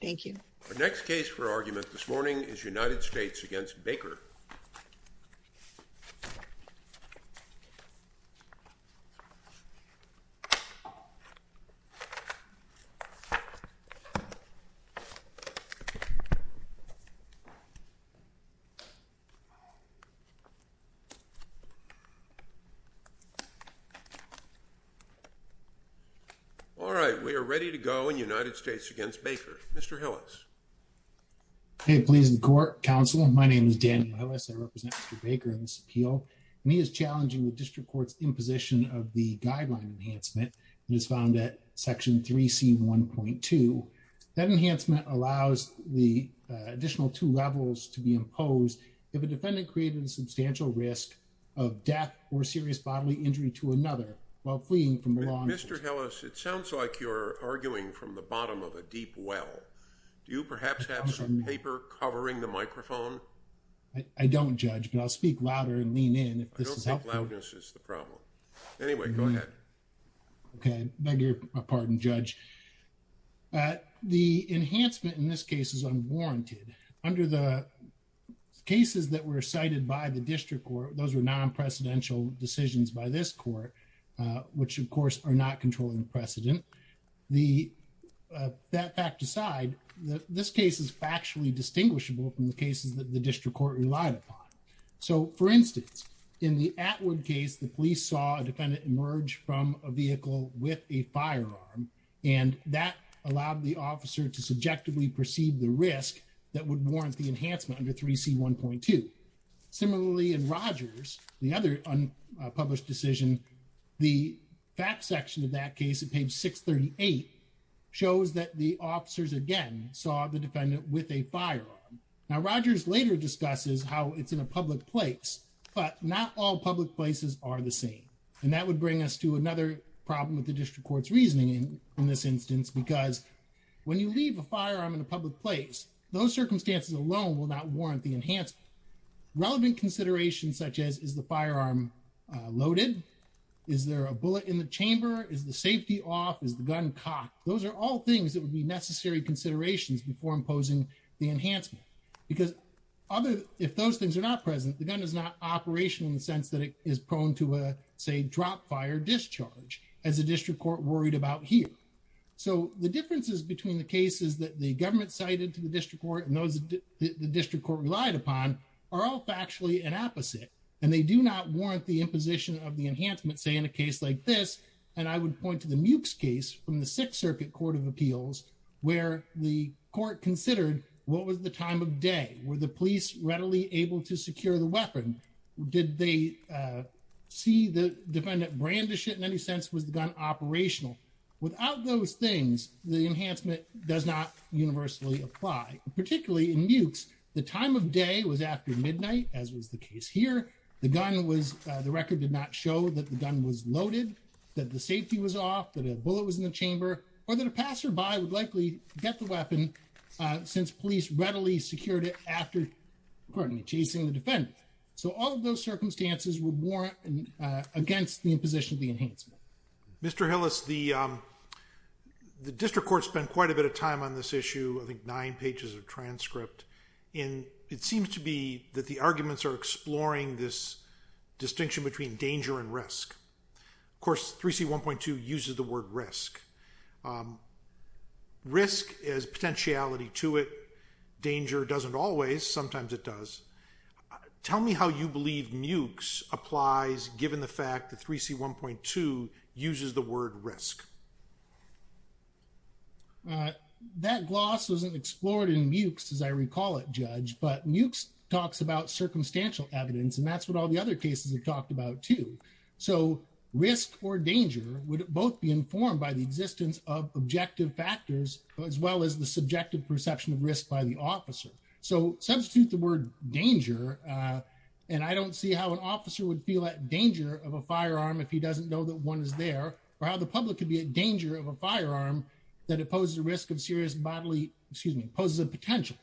Thank you. Our next case for argument this morning is United States v. Baker. All right. We are ready to go in United States v. Baker. Mr. Hillis. Mr. Hillis, it sounds like you're arguing from the bottom of a deep well. Do you perhaps have some paper covering the microphone? I don't, Judge, but I'll speak louder and lean in if this is helpful. I don't think loudness is the problem. Anyway, go ahead. Okay. I beg your pardon, Judge. The enhancement in this case is unwarranted. Under the cases that were cited by the district court, those were non-precedential decisions by this court, which of course are not controlling precedent. That fact aside, this case is factually distinguishable from the cases that the district court relied upon. So, for instance, in the Atwood case, the police saw a defendant emerge from a vehicle with a firearm, and that allowed the officer to subjectively perceive the risk that would warrant the enhancement under 3C1.2. Similarly, in Rogers, the other unpublished decision, the fact section of that case at page 638 shows that the officers again saw the defendant with a firearm. Now, Rogers later discusses how it's in a public place, but not all public places are the same. And that would bring us to another problem with the district court's reasoning in this instance, because when you leave a firearm in a public place, those circumstances alone will not warrant the enhancement. Relevant considerations such as, is the firearm loaded? Is there a bullet in the chamber? Is the safety off? Is the gun cocked? Those are all things that would be necessary considerations before imposing the enhancement. Because if those things are not present, the gun is not operational in the sense that it is prone to a, say, drop-fire discharge, as the district court worried about here. So the differences between the cases that the government cited to the district court and those that the district court relied upon are all factually an opposite. And they do not warrant the imposition of the enhancement, say, in a case like this. And I would point to the Mewkes case from the Sixth Circuit Court of Appeals, where the court considered what was the time of day? Were the police readily able to secure the weapon? Did they see the defendant brandish it in any sense? Was the gun operational? Without those things, the enhancement does not universally apply. Particularly in Mewkes, the time of day was after midnight, as was the case here. The gun was – the record did not show that the gun was loaded, that the safety was off, that a bullet was in the chamber, or that a passerby would likely get the weapon since police readily secured it after, accordingly, chasing the defendant. So all of those circumstances would warrant against the imposition of the enhancement. Mr. Hillis, the district court spent quite a bit of time on this issue, I think nine pages of transcript. And it seems to be that the arguments are exploring this distinction between danger and risk. Of course, 3C1.2 uses the word risk. Risk has potentiality to it. Danger doesn't always. Sometimes it does. Tell me how you believe Mewkes applies, given the fact that 3C1.2 uses the word risk. That gloss wasn't explored in Mewkes, as I recall it, Judge. But Mewkes talks about circumstantial evidence, and that's what all the other cases have talked about, too. So risk or danger would both be informed by the existence of objective factors, as well as the subjective perception of risk by the officer. So substitute the word danger, and I don't see how an officer would feel at danger of a firearm if he doesn't know that one is there, or how the public could be at danger of a firearm that opposes the risk of serious bodily, excuse me, poses a potential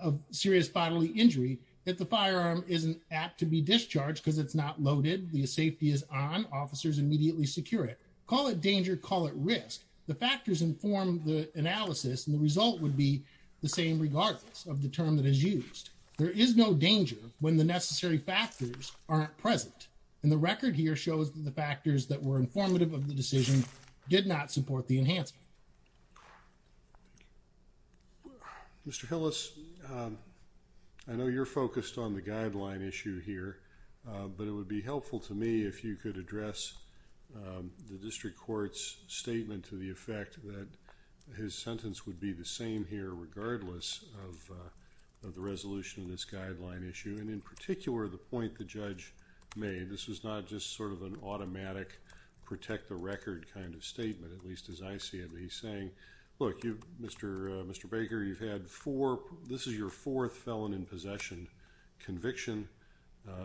of serious bodily injury if the firearm isn't apt to be discharged because it's not loaded, the safety is on, officers immediately secure it. Call it danger, call it risk. The factors inform the analysis, and the result would be the same regardless of the term that is used. There is no danger when the necessary factors aren't present, and the record here shows that the factors that were informative of the decision did not support the enhancement. Mr. Hillis, I know you're focused on the guideline issue here, but it would be helpful to me if you could address the district court's statement to the effect that his sentence would be the same here regardless of the resolution of this guideline issue, and in particular the point the judge made. This was not just sort of an automatic protect the record kind of statement, at least as I see it. Look, Mr. Baker, you've had four, this is your fourth felon in possession conviction.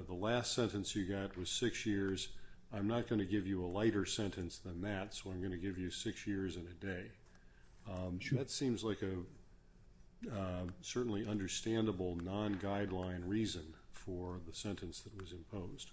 The last sentence you got was six years. I'm not going to give you a lighter sentence than that, so I'm going to give you six years and a day. That seems like a certainly understandable non-guideline reason for the sentence that was imposed.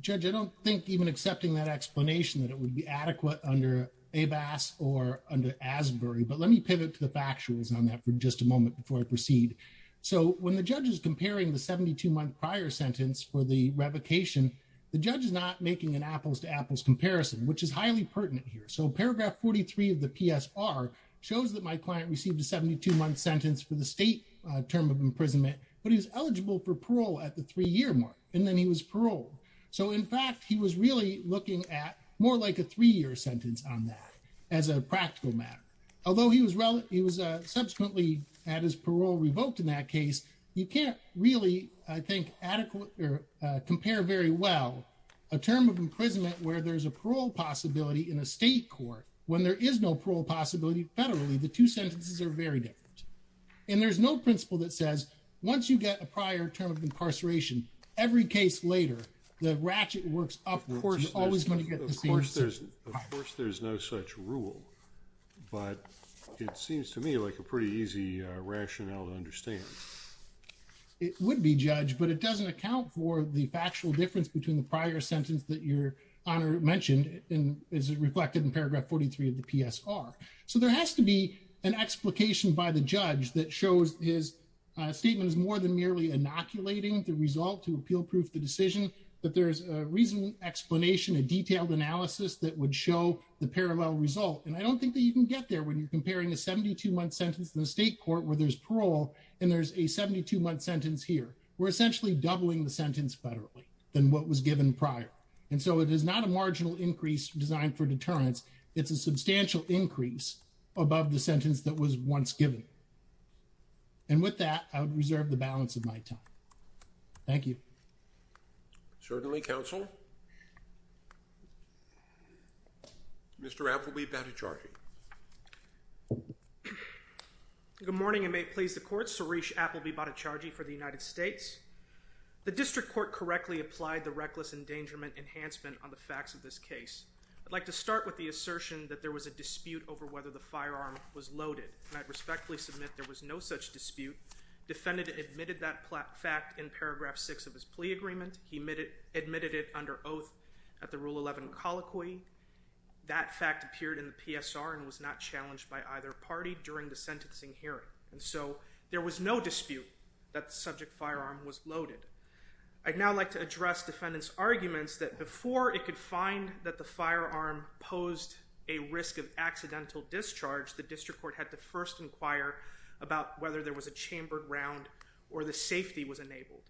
Judge, I don't think even accepting that explanation that it would be adequate under ABAS or under Asbury, but let me pivot to the factuals on that for just a moment before I proceed. So when the judge is comparing the 72-month prior sentence for the revocation, the judge is not making an apples-to-apples comparison, which is highly pertinent here. So paragraph 43 of the PSR shows that my client received a 72-month sentence for the state term of imprisonment, but he was eligible for parole at the three-year mark, and then he was paroled. So in fact, he was really looking at more like a three-year sentence on that as a practical matter. Although he was subsequently had his parole revoked in that case, you can't really, I think, compare very well a term of imprisonment where there's a parole possibility in a state court. When there is no parole possibility federally, the two sentences are very different. And there's no principle that says, once you get a prior term of incarceration, every case later, the ratchet works upwards, you're always going to get the same answer. Of course, there's no such rule, but it seems to me like a pretty easy rationale to understand. It would be, Judge, but it doesn't account for the factual difference between the prior sentence that Your Honor mentioned, and is reflected in paragraph 43 of the PSR. So there has to be an explication by the judge that shows his statement is more than merely inoculating the result to appeal proof the decision, that there's a reasonable explanation, a detailed analysis that would show the parallel result. And I don't think that you can get there when you're comparing a 72-month sentence in the state court where there's parole, and there's a 72-month sentence here. We're essentially doubling the sentence federally than what was given prior. And so it is not a marginal increase designed for deterrence. It's a substantial increase above the sentence that was once given. And with that, I would reserve the balance of my time. Thank you. Certainly, counsel. Mr. Appleby-Battacargi. Good morning, and may it please the court. Suresh Appleby-Battacargi for the United States. The district court correctly applied the reckless endangerment enhancement on the facts of this case. I'd like to start with the assertion that there was a dispute over whether the firearm was loaded. And I'd respectfully submit there was no such dispute. Defendant admitted that fact in paragraph 6 of his plea agreement. He admitted it under oath at the Rule 11 colloquy. That fact appeared in the PSR and was not challenged by either party during the sentencing hearing. And so there was no dispute that the subject firearm was loaded. I'd now like to address defendant's arguments that before it could find that the firearm posed a risk of accidental discharge, the district court had to first inquire about whether there was a chambered round or the safety was enabled.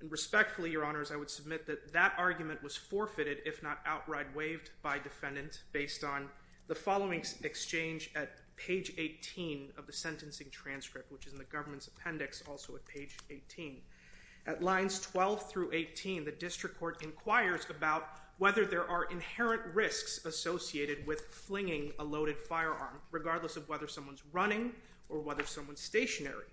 And respectfully, your honors, I would submit that that argument was forfeited, if not outright waived by defendant, based on the following exchange at page 18 of the sentencing transcript, which is in the government's appendix, also at page 18. At lines 12 through 18, the district court inquires about whether there are inherent risks associated with flinging a loaded firearm, regardless of whether someone's running or whether someone's stationary.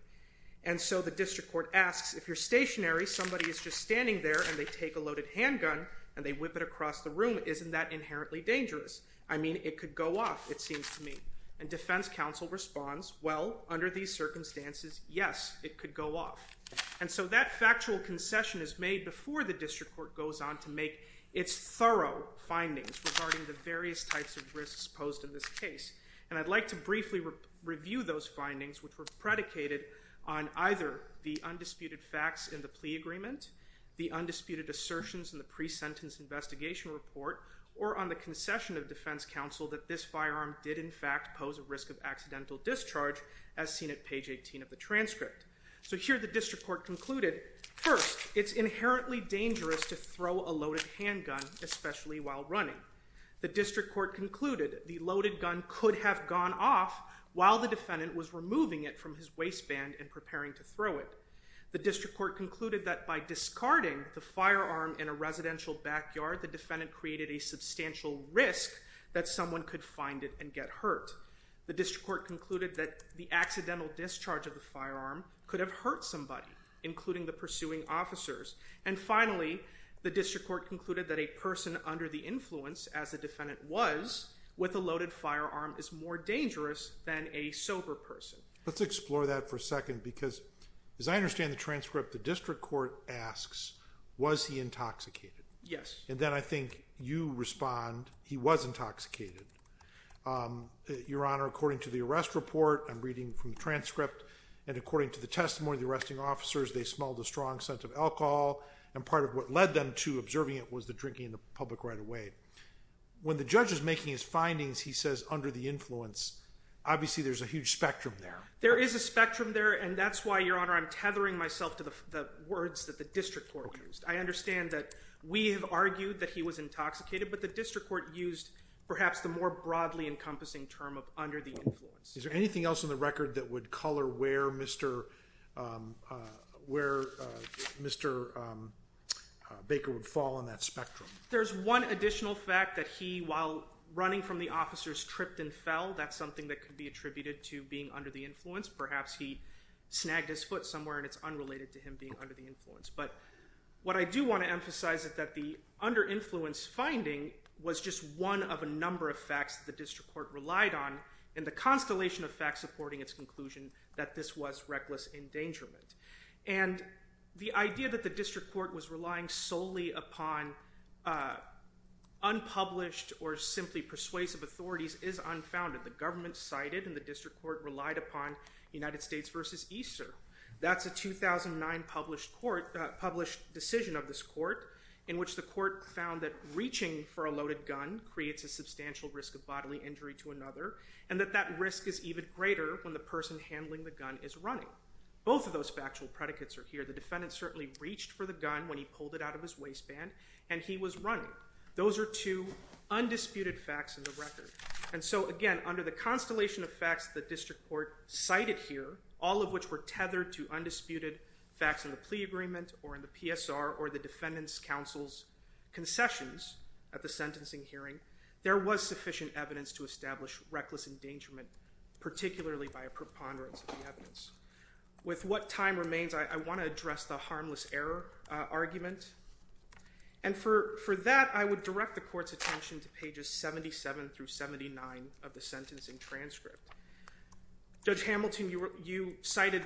And so the district court asks, if you're stationary, somebody is just standing there and they take a loaded handgun and they whip it across the room, isn't that inherently dangerous? I mean, it could go off, it seems to me. And defense counsel responds, well, under these circumstances, yes, it could go off. And so that factual concession is made before the district court goes on to make its thorough findings regarding the various types of risks posed in this case. And I'd like to briefly review those findings, which were predicated on either the undisputed facts in the plea agreement, the undisputed assertions in the pre-sentence investigation report, or on the concession of defense counsel that this firearm did in fact pose a risk of accidental discharge, as seen at page 18 of the transcript. So here the district court concluded, first, it's inherently dangerous to throw a loaded handgun, especially while running. The district court concluded the loaded gun could have gone off while the defendant was removing it from his waistband and preparing to throw it. The district court concluded that by discarding the firearm in a residential backyard, the defendant created a substantial risk that someone could find it and get hurt. The district court concluded that the accidental discharge of the firearm could have hurt somebody, including the pursuing officers. And finally, the district court concluded that a person under the influence, as the defendant was, with a loaded firearm is more dangerous than a sober person. Let's explore that for a second, because as I understand the transcript, the district court asks, was he intoxicated? Yes. And then I think you respond, he was intoxicated. Your Honor, according to the arrest report, I'm reading from the transcript, and according to the testimony of the arresting officers, they smelled a strong scent of alcohol, and part of what led them to observing it was the drinking in the public right of way. When the judge is making his findings, he says under the influence, obviously there's a huge spectrum there. There is a spectrum there, and that's why, Your Honor, I'm tethering myself to the words that the district court used. I understand that we have argued that he was intoxicated, but the district court used perhaps the more broadly encompassing term of under the influence. Is there anything else in the record that would color where Mr. Baker would fall on that spectrum? There's one additional fact that he, while running from the officers, tripped and fell. That's something that could be attributed to being under the influence. Perhaps he snagged his foot somewhere, and it's unrelated to him being under the influence. But what I do want to emphasize is that the under influence finding was just one of a number of facts the district court relied on, and the constellation of facts supporting its conclusion that this was reckless endangerment. The idea that the district court was relying solely upon unpublished or simply persuasive authorities is unfounded. The government cited in the district court relied upon United States versus EASER. That's a 2009 published decision of this court in which the court found that reaching for a loaded gun creates a substantial risk of bodily injury to another, and that that risk is even greater when the person handling the gun is running. Both of those factual predicates are here. The defendant certainly reached for the gun when he pulled it out of his waistband, and he was running. Those are two undisputed facts in the record. And so, again, under the constellation of facts the district court cited here, all of which were tethered to undisputed facts in the plea agreement or in the PSR or the defendant's counsel's concessions at the sentencing hearing, there was sufficient evidence to establish reckless endangerment, particularly by a preponderance of the evidence. With what time remains, I want to address the harmless error argument. And for that, I would direct the court's attention to pages 77 through 79 of the sentencing transcript. Judge Hamilton, you cited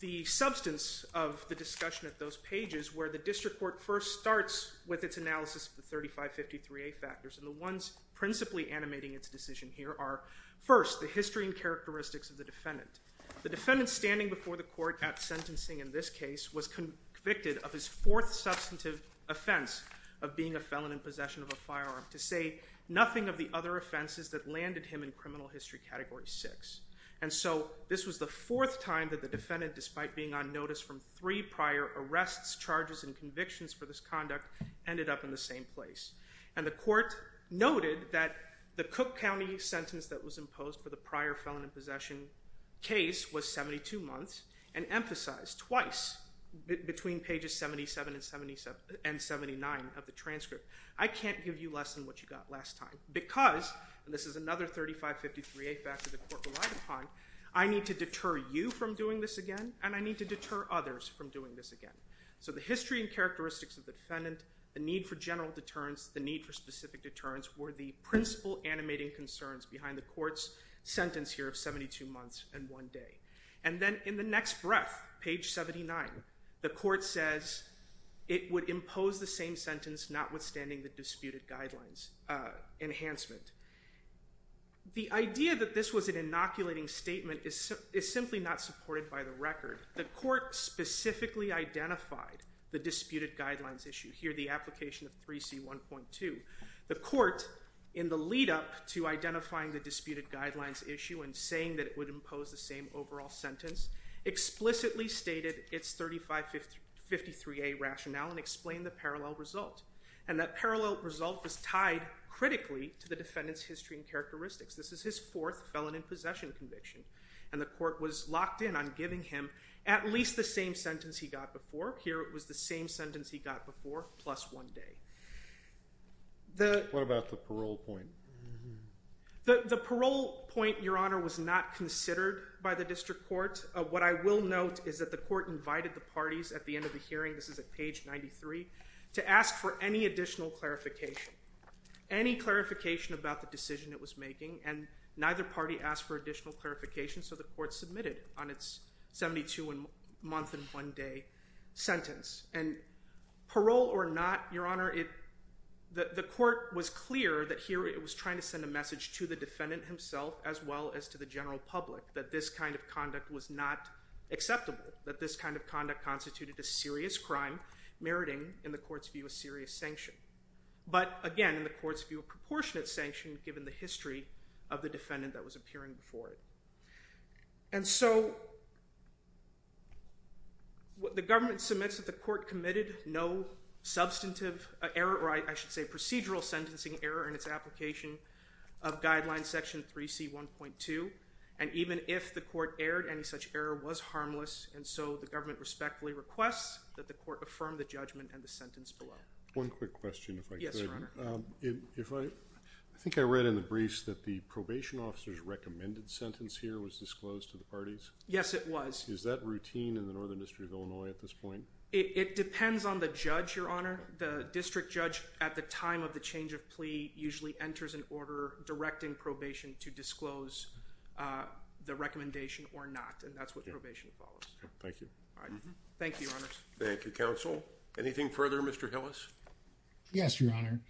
the substance of the discussion at those pages where the district court first starts with its analysis of the 3553A factors, and the ones principally animating its decision here are, first, the history and characteristics of the defendant. The defendant standing before the court at sentencing in this case was convicted of his fourth substantive offense of being a felon in possession of a firearm, to say nothing of the other offenses that landed him in criminal history category 6. And so this was the fourth time that the defendant, despite being on notice from three prior arrests, charges, and convictions for this conduct, ended up in the same place. And the court noted that the Cook County sentence that was imposed for the prior felon in possession case was 72 months and emphasized twice between pages 77 and 79 of the transcript. I can't give you less than what you got last time because, and this is another 3553A factor the court relied upon, I need to deter you from doing this again, and I need to deter others from doing this again. So the history and characteristics of the defendant, the need for general deterrence, the need for specific deterrence were the principal animating concerns behind the court's sentence here of 72 months and one day. And then in the next breath, page 79, the court says, it would impose the same sentence notwithstanding the disputed guidelines enhancement. The idea that this was an inoculating statement is simply not supported by the record. The court specifically identified the disputed guidelines issue here, the application of 3C1.2. The court, in the lead up to identifying the disputed guidelines issue and saying that it would impose the same overall sentence, explicitly stated its 3553A rationale and explained the parallel result. And that parallel result was tied critically to the defendant's history and characteristics. This is his fourth felon in possession conviction. And the court was locked in on giving him at least the same sentence he got before. Here it was the same sentence he got before plus one day. What about the parole point? The parole point, Your Honor, was not considered by the district court. What I will note is that the court invited the parties at the end of the hearing, this is at page 93, to ask for any additional clarification, any clarification about the decision it was making, and neither party asked for additional clarification, so the court submitted on its 72 month and one day sentence. And parole or not, Your Honor, the court was clear that here it was trying to send a message to the defendant himself as well as to the general public that this kind of conduct was not acceptable, that this kind of conduct constituted a serious crime meriting, in the court's view, a serious sanction. But again, in the court's view, a proportionate sanction given the history of the defendant that was appearing before it. And so the government submits that the court committed no substantive error, or I should say procedural sentencing error in its application of guideline section 3C1.2, and even if the court erred, any such error was harmless, and so the government respectfully requests that the court affirm the judgment and the sentence below. One quick question, if I could. Yes, Your Honor. I think I read in the briefs that the probation officer's recommended sentence here was disclosed to the parties. Yes, it was. Is that routine in the Northern District of Illinois at this point? It depends on the judge, Your Honor. The district judge at the time of the change of plea usually enters an order directing probation to disclose the recommendation or not, and that's what probation follows. Thank you. Thank you, Your Honors. Thank you, Counsel. Anything further, Mr. Hillis? Yes, Your Honor.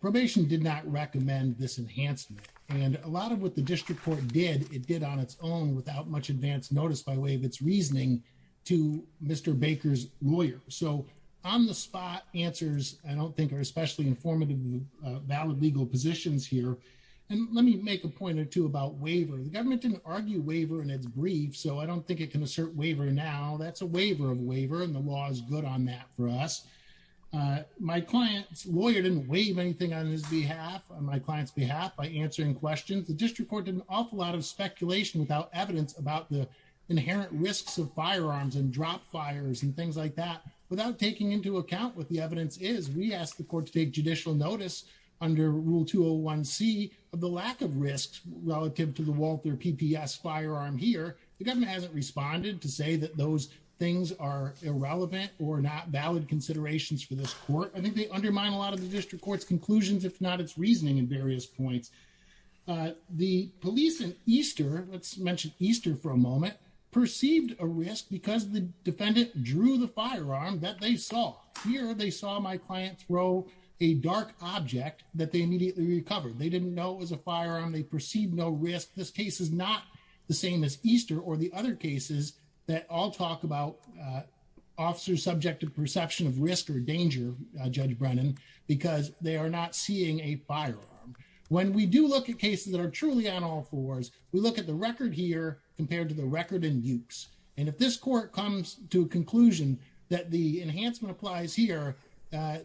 Probation did not recommend this enhancement, and a lot of what the district court did, it did on its own without much advance notice by way of its reasoning to Mr. Baker's lawyer. So on-the-spot answers I don't think are especially informative in the valid legal positions here. And let me make a point or two about waiver. The government didn't argue waiver in its brief, so I don't think it can assert waiver now. That's a waiver of waiver, and the law is good on that for us. My client's lawyer didn't waive anything on his behalf, on my client's behalf, by answering questions. The district court did an awful lot of speculation without evidence about the inherent risks of firearms and drop fires and things like that without taking into account what the evidence is. We asked the court to take judicial notice under Rule 201C of the lack of risks relative to the Walther PPS firearm here. The government hasn't responded to say that those things are irrelevant or not valid considerations for this court. I think they undermine a lot of the district court's conclusions, if not its reasoning in various points. The police in Easter, let's mention Easter for a moment, perceived a risk because the defendant drew the firearm that they saw. Here, they saw my client throw a dark object that they immediately recovered. They didn't know it was a firearm. They perceived no risk. This case is not the same as Easter or the other cases that all talk about officers subject to perception of risk or danger, Judge Brennan, because they are not seeing a firearm. When we do look at cases that are truly on all fours, we look at the record here compared to the record in Dukes. And if this court comes to a conclusion that the enhancement applies here,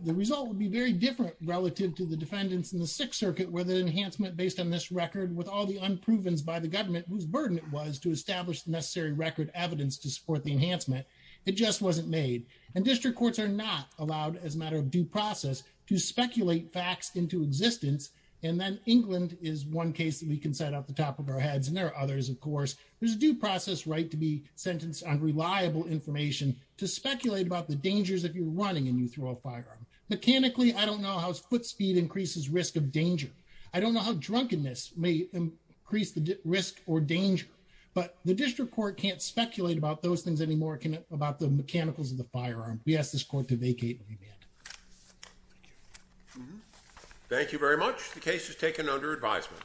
the result would be very different relative to the defendants in the Sixth Circuit where the enhancement based on this record, with all the unprovens by the government, whose burden it was to establish the necessary record evidence to support the enhancement. It just wasn't made. And district courts are not allowed, as a matter of due process, to speculate facts into existence. And then England is one case that we can set off the top of our heads. And there are others, of course. There's a due process right to be sentenced on reliable information to speculate about the dangers if you're running and you throw a firearm. Mechanically, I don't know how foot speed increases risk of danger. I don't know how drunkenness may increase the risk or danger. But the district court can't speculate about those things anymore, about the mechanicals of the firearm. We ask this court to vacate and remand. Thank you very much. The case is taken under advisement.